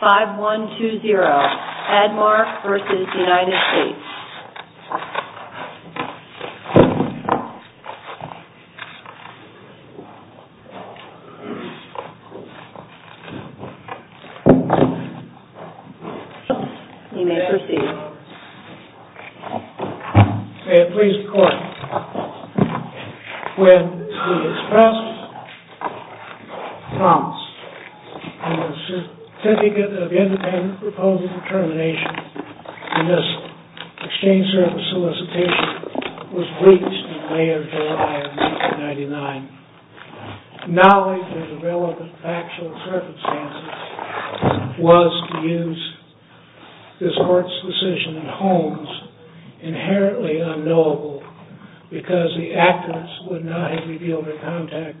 5-1-2-0 ADMARK v. United States You may proceed. When the express promise in the Certificate of Independent Proposed Determination in this exchange service solicitation was breached in May of July of 1999, knowledge of the relevant factual circumstances was to use this court's decision in Holmes inherently unknowable, because the actors would not have revealed their conduct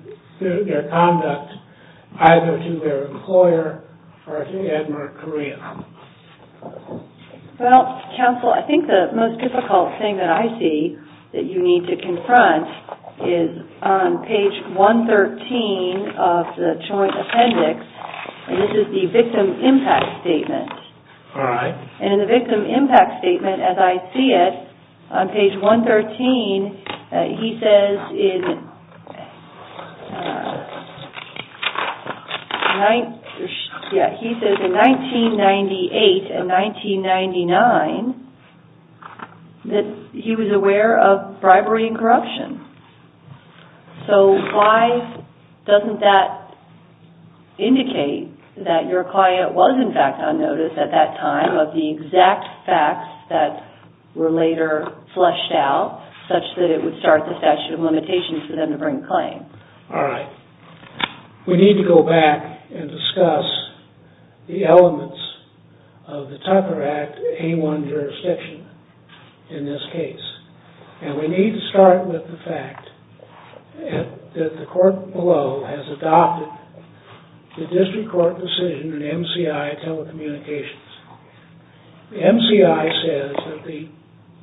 either to their employer or to ADMARK KOREA. Well, counsel, I think the most difficult thing that I see that you need to confront is on page 113 of the Joint Appendix, and this is the victim impact statement. All right. And in the victim impact statement, as I see it, on page 113, he says in 1998 and 1999 that he was aware of bribery and corruption. So why doesn't that indicate that your client was in fact on notice at that time of the exact facts that were later fleshed out, such that it would start the statute of limitations for them to bring a claim? All right. We need to go back and discuss the elements of the Tucker Act A-1 jurisdiction in this case, and we need to start with the fact that the court below has adopted the district court decision in MCI telecommunications. The MCI says that the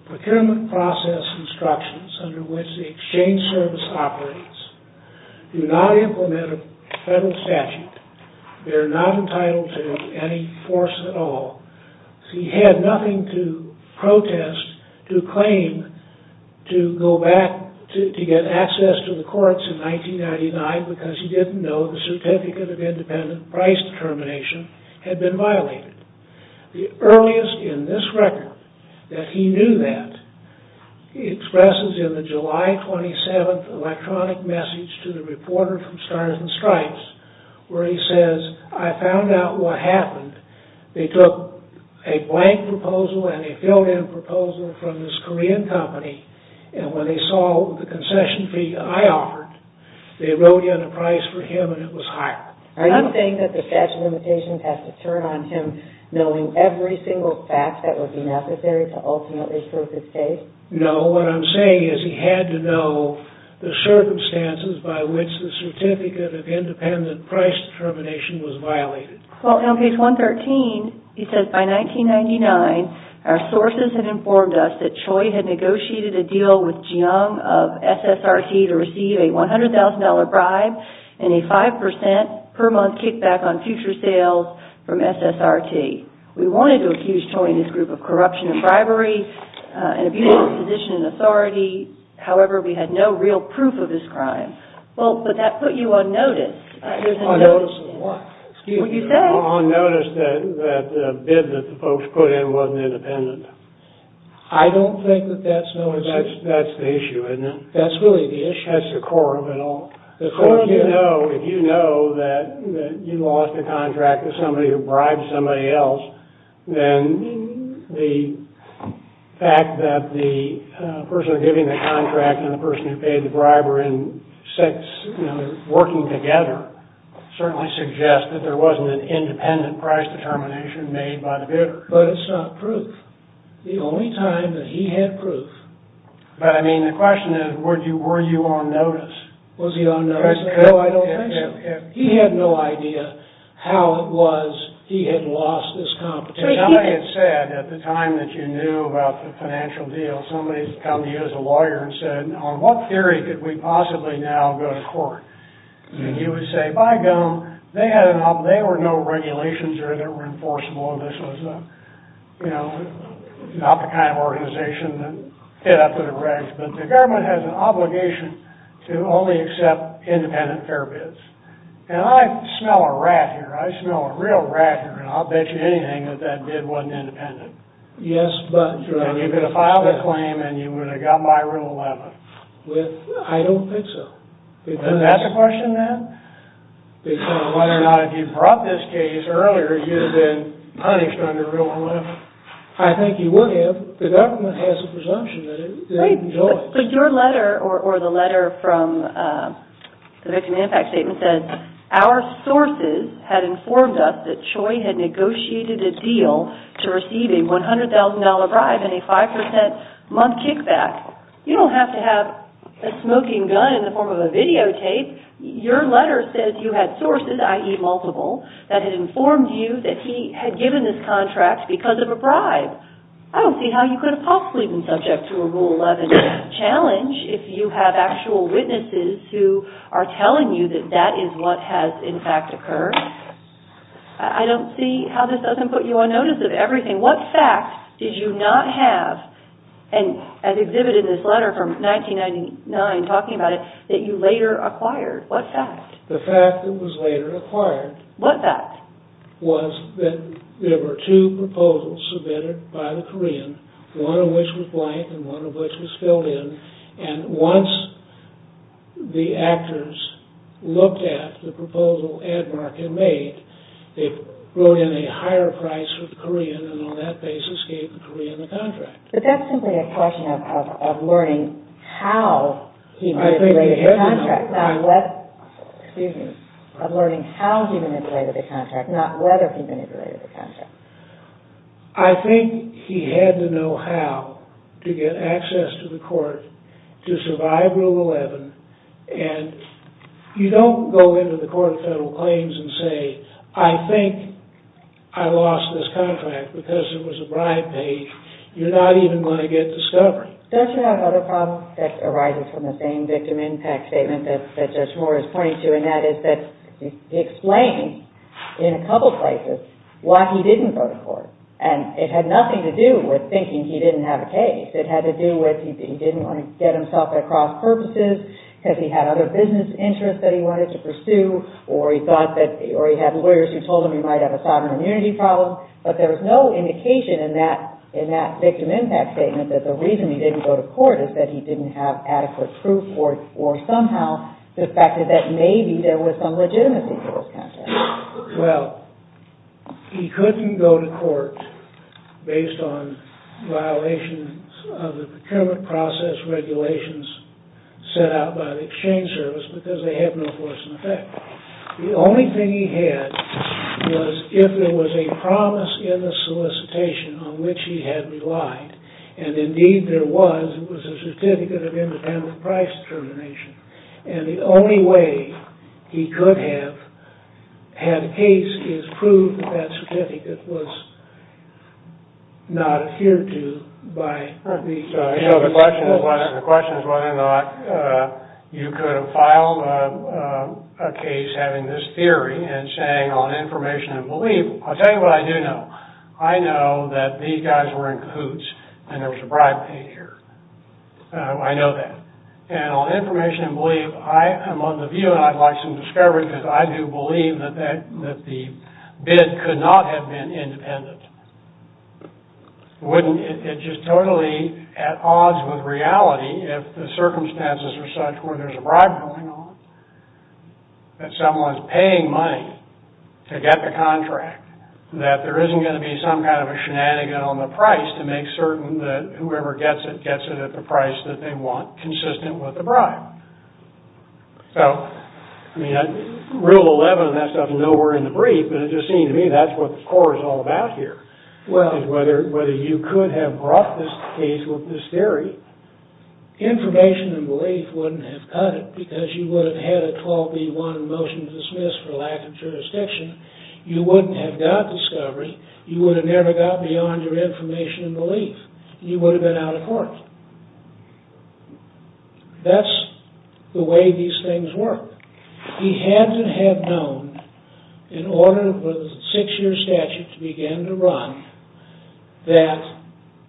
procurement process instructions under which the exchange service operates do not implement a federal statute. They are not entitled to any force at all. He had nothing to protest, to claim, to go back to get access to the courts in 1999, because he didn't know the Certificate of Independent Price Determination had been violated. The earliest in this record that he knew that, he expresses in the July 27th electronic message to the reporter from Stars and Stripes, where he says, I found out what happened. They took a blank proposal and a filled-in proposal from this Korean company, and when they saw the concession fee that I offered, they wrote in a price for him, and it was higher. Are you saying that the statute of limitations has to turn on him knowing every single fact that would be necessary to ultimately prove his case? No, what I'm saying is he had to know the circumstances by which the Certificate of Independent Price Determination was violated. On page 113, he says, by 1999, our sources had informed us that Choi had negotiated a deal with Jiang of SSRT to receive a $100,000 bribe and a 5% per month kickback on future sales from SSRT. We wanted to accuse Choi and his group of corruption and bribery and abuse of position and authority. However, we had no real proof of this crime. Well, but that put you on notice. On notice of what? On notice that the bid that the folks put in wasn't independent. I don't think that that's no excuse. That's the issue, isn't it? That's really the issue. That's the core of it all. The core of it all, if you know that you lost a contract to somebody who bribed somebody else, then the fact that the person giving the contract and the person who paid the briber and six working together certainly suggests that there wasn't an independent price determination made by the bidder. But it's not proof. The only time that he had proof. But, I mean, the question is, were you on notice? Was he on notice? No, I don't think so. He had no idea how it was he had lost this competition. Somebody had said at the time that you knew about the financial deal, somebody had come to you as a lawyer and said, on what theory could we possibly now go to court? And you would say, by gone. They were no regulations that were enforceable. This was not the kind of organization that fit up with the regs. But the government has an obligation to only accept independent fare bids. And I smell a rat here. I smell a real rat here. And I'll bet you anything that that bid wasn't independent. Yes, but. And you could have filed a claim and you would have gotten by Rule 11. I don't think so. And that's a question then? Because whether or not if you brought this case earlier, you'd have been punished under Rule 11. I think you would have. The government has a presumption that it enjoys. But your letter or the letter from the victim impact statement says, our sources had informed us that Choi had negotiated a deal to receive a $100,000 bribe and a 5% month kickback. You don't have to have a smoking gun in the form of a videotape. Your letter says you had sources, i.e., multiple, that had informed you that he had given this contract because of a bribe. I don't see how you could have possibly been subject to a Rule 11 challenge if you have actual witnesses who are telling you that that is what has, in fact, occurred. I don't see how this doesn't put you on notice of everything. What fact did you not have, as exhibited in this letter from 1999 talking about it, that you later acquired? What fact? The fact that it was later acquired. What fact? The fact was that there were two proposals submitted by the Korean, one of which was blank and one of which was filled in. And once the actors looked at the proposal Edmark had made, it brought in a higher price for the Korean and on that basis gave the Korean the contract. But that's simply a question of learning how he manipulated the contract. Excuse me. Of learning how he manipulated the contract, not whether he manipulated the contract. I think he had to know how to get access to the court to survive Rule 11 and you don't go into the Court of Federal Claims and say, I think I lost this contract because it was a bribe paid. You're not even going to get discovery. Does he have another problem that arises from the same victim impact statement that Judge Moore is pointing to and that is that he explains in a couple places why he didn't go to court. And it had nothing to do with thinking he didn't have a case. It had to do with he didn't want to get himself at cross purposes because he had other business interests that he wanted to pursue or he had lawyers who told him he might have a sovereign immunity problem. But there was no indication in that victim impact statement that the reason he didn't go to court is that he didn't have adequate proof or somehow the fact that maybe there was some legitimacy to this contract. Well, he couldn't go to court based on violations of the procurement process regulations set out by the exchange service because they had no force in effect. The only thing he had was if there was a promise in the solicitation on which he had relied and indeed there was, it was a certificate of independent price determination. And the only way he could have had a case is prove that that certificate was not adhered to by the exchange service. The question is whether or not you could have filed a case having this theory and saying on information and belief, I'll tell you what I do know. I know that these guys were in cahoots and there was a bribe paid here. I know that. And on information and belief, I am of the view and I'd like some discovery because I do believe that the bid could not have been independent. It's just totally at odds with reality if the circumstances were such where there's a bribe going on that someone's paying money to get the contract, that there isn't going to be some kind of a shenanigan on the price to make certain that whoever gets it gets it at the price that they want consistent with the bribe. So, rule 11, that stuff is nowhere in the brief, but it just seems to me that's what the court is all about here, is whether you could have brought this case with this theory. Information and belief wouldn't have cut it because you would have had a 12B1 motion to dismiss for lack of jurisdiction. You wouldn't have got discovery. You would have never got beyond your information and belief. You would have been out of court. That's the way these things work. He had to have known in order for the six-year statute to begin to run that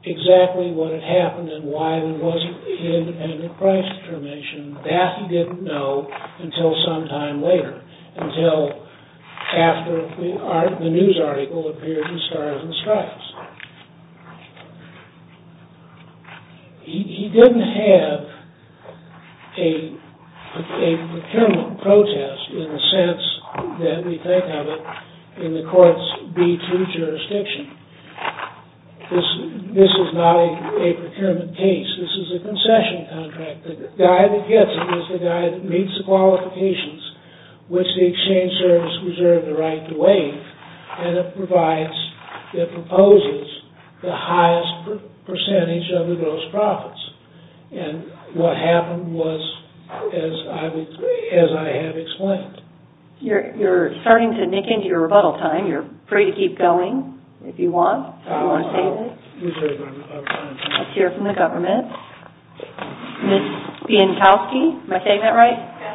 exactly what had happened and why there wasn't an independent price determination. That he didn't know until some time later, until after the news article appeared in Stars and Stripes. He didn't have a procurement protest in the sense that we think of it in the court's B2 jurisdiction. This is not a procurement case. This is a concession contract. The guy that gets it is the guy that meets the qualifications which the exchange service reserved the right to waive and it proposes the highest percentage of the gross profits. What happened was, as I have explained. You're starting to nick into your rebuttal time. You're free to keep going if you want. Let's hear from the government. Ms. Bientowski, am I saying that right? Yes.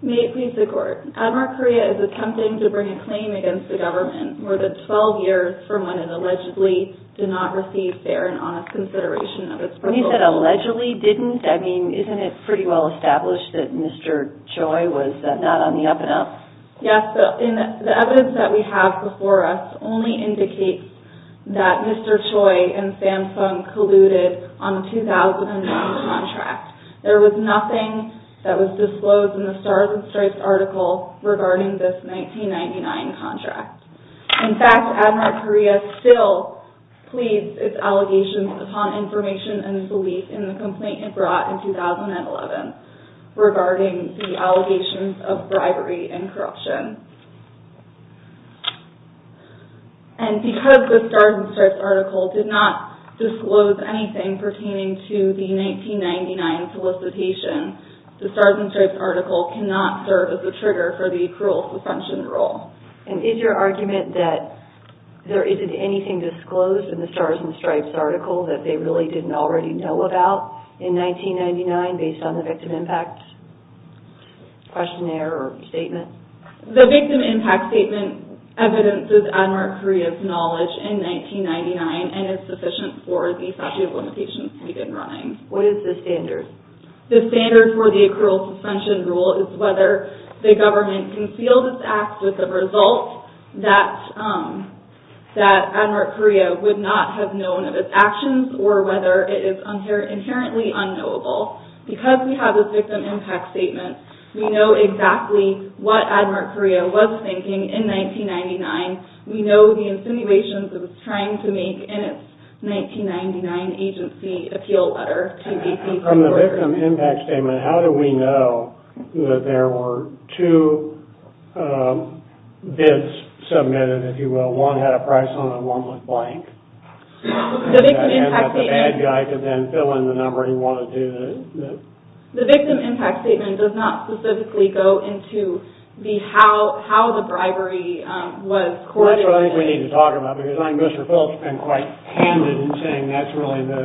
May it please the court. Admark Korea is attempting to bring a claim against the government more than 12 years from when it allegedly did not receive fair and honest consideration of its proposal. When you said allegedly didn't, I mean, isn't it pretty well established that Mr. Choi was not on the up and up? Yes, the evidence that we have before us only indicates that Mr. Choi and Samsung colluded on the 2009 contract. There was nothing that was disclosed in the Stars and Stripes article regarding this 1999 contract. In fact, Admark Korea still pleads its allegations upon information and belief in the complaint it brought in 2011 regarding the allegations of bribery and corruption. And because the Stars and Stripes article did not disclose anything pertaining to the 1999 solicitation, the Stars and Stripes article cannot serve as a trigger for the cruel suspension rule. And is your argument that there isn't anything disclosed in the Stars and Stripes article that they really didn't already know about in 1999 based on the victim impact questionnaire or statement? The victim impact statement evidences Admark Korea's knowledge in 1999 and is sufficient for the statute of limitations to be running. What is the standard? The standard for the accrual suspension rule is whether the government can conceal this act as a result that Admark Korea would not have known of its actions or whether it is inherently unknowable. Because we have the victim impact statement, we know exactly what Admark Korea was thinking in 1999. We know the insinuations it was trying to make in its 1999 agency appeal letter. From the victim impact statement, how do we know that there were two bids submitted, if you will? One had a price on it and one was blank? And that the bad guy could then fill in the number he wanted to? The victim impact statement does not specifically go into how the bribery was coordinated. That's what I think we need to talk about because I think Mr. Phillips has been quite candid in saying that's really the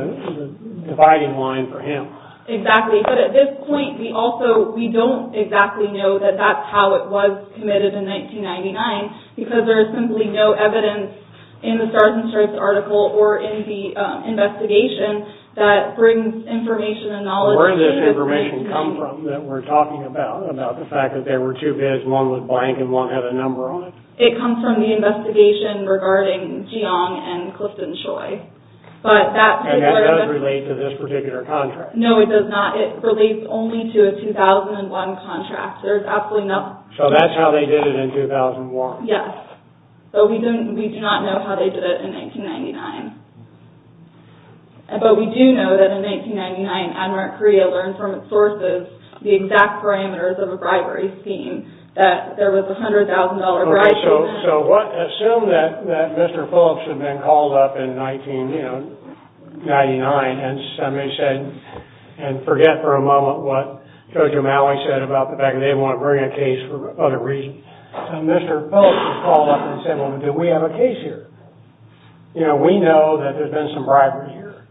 dividing line for him. Exactly. But at this point, we don't exactly know that that's how it was committed in 1999 because there is simply no evidence in the Stars and Stripes article or in the investigation that brings information and knowledge. Where did this information come from that we're talking about, about the fact that there were two bids and one was blank and one had a number on it? It comes from the investigation regarding Geong and Clifton Choi. And that does relate to this particular contract? No, it does not. It relates only to a 2001 contract. There is absolutely no... So that's how they did it in 2001? Yes. So we do not know how they did it in 1999. But we do know that in 1999, AdMark Korea learned from its sources the exact parameters of a bribery scheme, that there was a $100,000 bribery. So what... Assume that Mr. Phillips had been called up in 1999 and somebody said... And forget for a moment what Jojo Maui said about the fact that they didn't want to bring a case for other reasons. Mr. Phillips called up and said, Well, do we have a case here? You know, we know that there's been some bribery here.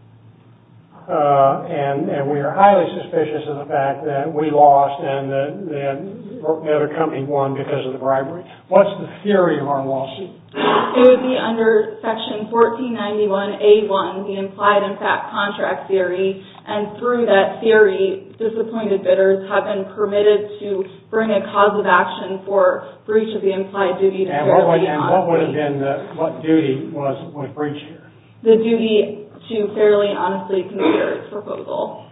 And we are highly suspicious of the fact that we lost and that a company won because of the bribery. What's the theory of our loss? It would be under Section 1491A1, the implied and fact contract theory. And through that theory, disappointed bidders have been permitted to bring a cause of action for breach of the implied duty to fairly honestly... And what would have been the... What duty was breached here? The duty to fairly honestly consider its proposal.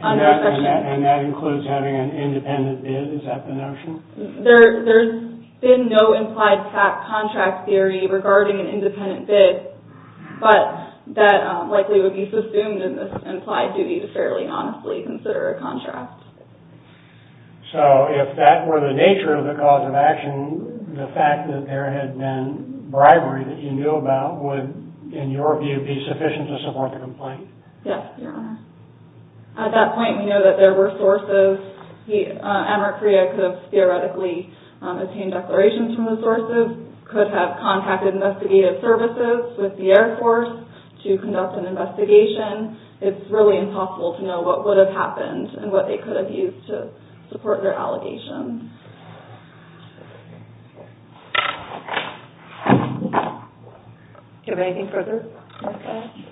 And that includes having an independent bid? Is that the notion? There's been no implied fact contract theory regarding an independent bid, but that likely would be assumed in this implied duty to fairly honestly consider a contract. So if that were the nature of the cause of action, the fact that there had been bribery that you knew about would, in your view, be sufficient to support the complaint? Yes, Your Honour. At that point, we know that there were sources. Americrea could have theoretically obtained declarations from those sources, could have contacted investigative services with the Air Force to conduct an investigation. It's really impossible to know what would have happened and what they could have used to support their allegations. Do you have anything further?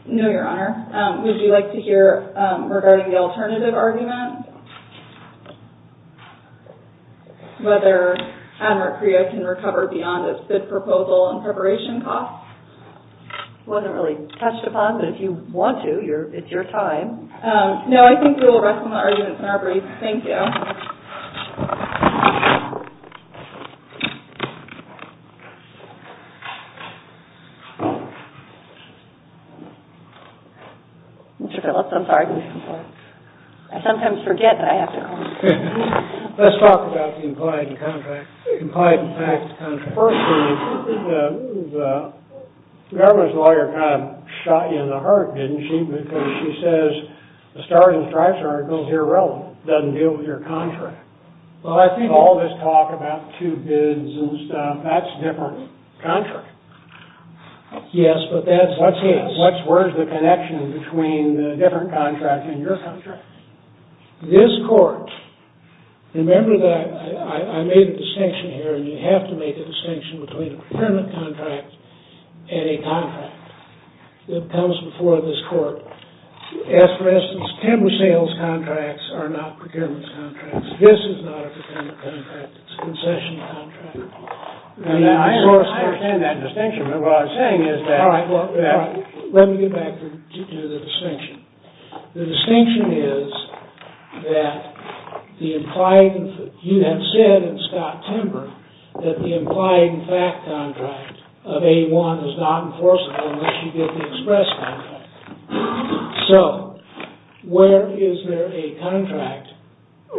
No, Your Honour. Would you like to hear regarding the alternative argument? Whether Americrea can recover beyond its bid proposal and preparation costs? It wasn't really touched upon, but if you want to, it's your time. No, I think we will rest on the arguments in our brief. Thank you. Mr. Phillips, I'm sorry. I sometimes forget that I have to comment. Let's talk about the implied contract. The implied and taxed contract. First thing, the government's lawyer kind of shot you in the heart, didn't she? Because she says the Stars and Stripes article is irrelevant. It doesn't deal with your contract. Well, I think all this talk about two bids and stuff, that's a different contract. Yes, but that's what's his. Where's the connection between the different contract and your contract? This court, remember that I made a distinction here, and you have to make a distinction between a procurement contract and a contract that comes before this court. As for instance, timber sales contracts are not procurement contracts. This is not a procurement contract. It's a concession contract. I understand that distinction, but what I'm saying is that... All right, let me get back to the distinction. The distinction is that you have said in Scott Timber that the implied and fact contract of A1 is not enforceable unless you get the express contract. So, where is there a contract,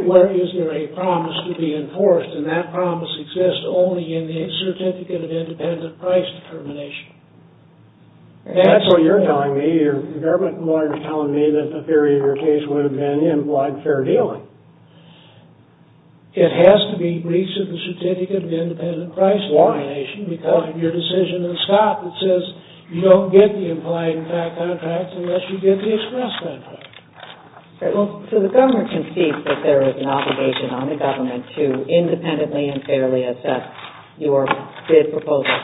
where is there a promise to be enforced, and that promise exists only in the certificate of independent price determination? That's what you're telling me. The government lawyer is telling me that the theory of your case would have been implied fair dealing. It has to be breach of the certificate of independent price determination because of your decision in Scott that says you don't get the implied and fact contract unless you get the express contract. So, the government concedes that there is an obligation on the government to independently and fairly assess your bid proposal.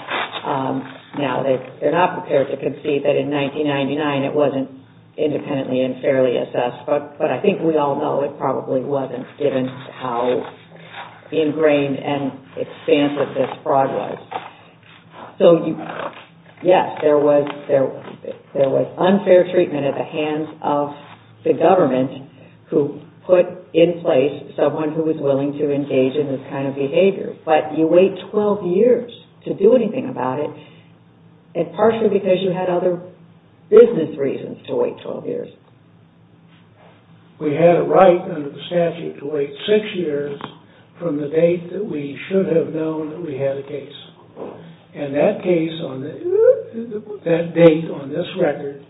Now, they're not prepared to concede that in 1999 it wasn't independently and fairly assessed, but I think we all know it probably wasn't given how ingrained and expansive this fraud was. So, yes, there was unfair treatment at the hands of the government who put in place someone who was willing to engage in this kind of behavior, but you wait 12 years to do anything about it, and partially because you had other business reasons to wait 12 years. We had a right under the statute to wait six years from the date that we should have known that we had a case, and that date on this record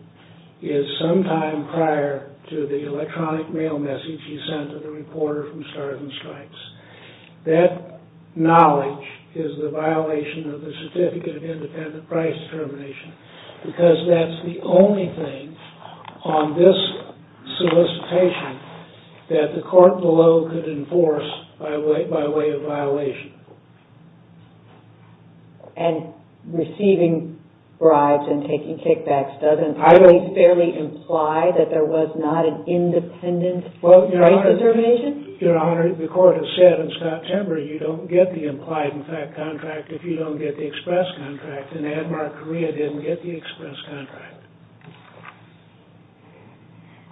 is sometime prior to the electronic mail message you sent to the reporter from Stars and Stripes. That knowledge is the violation of the certificate of independent price determination because that's the only thing on this solicitation that the court below could enforce by way of violation. And receiving bribes and taking kickbacks doesn't fairly imply that there was not an independent price determination? Your Honor, the court has said since October you don't get the implied contract if you don't get the express contract, and Admark Korea didn't get the express contract.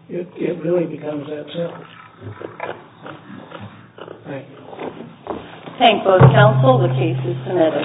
It really becomes that simple. Thank you. Thank both counsel. The case is submitted.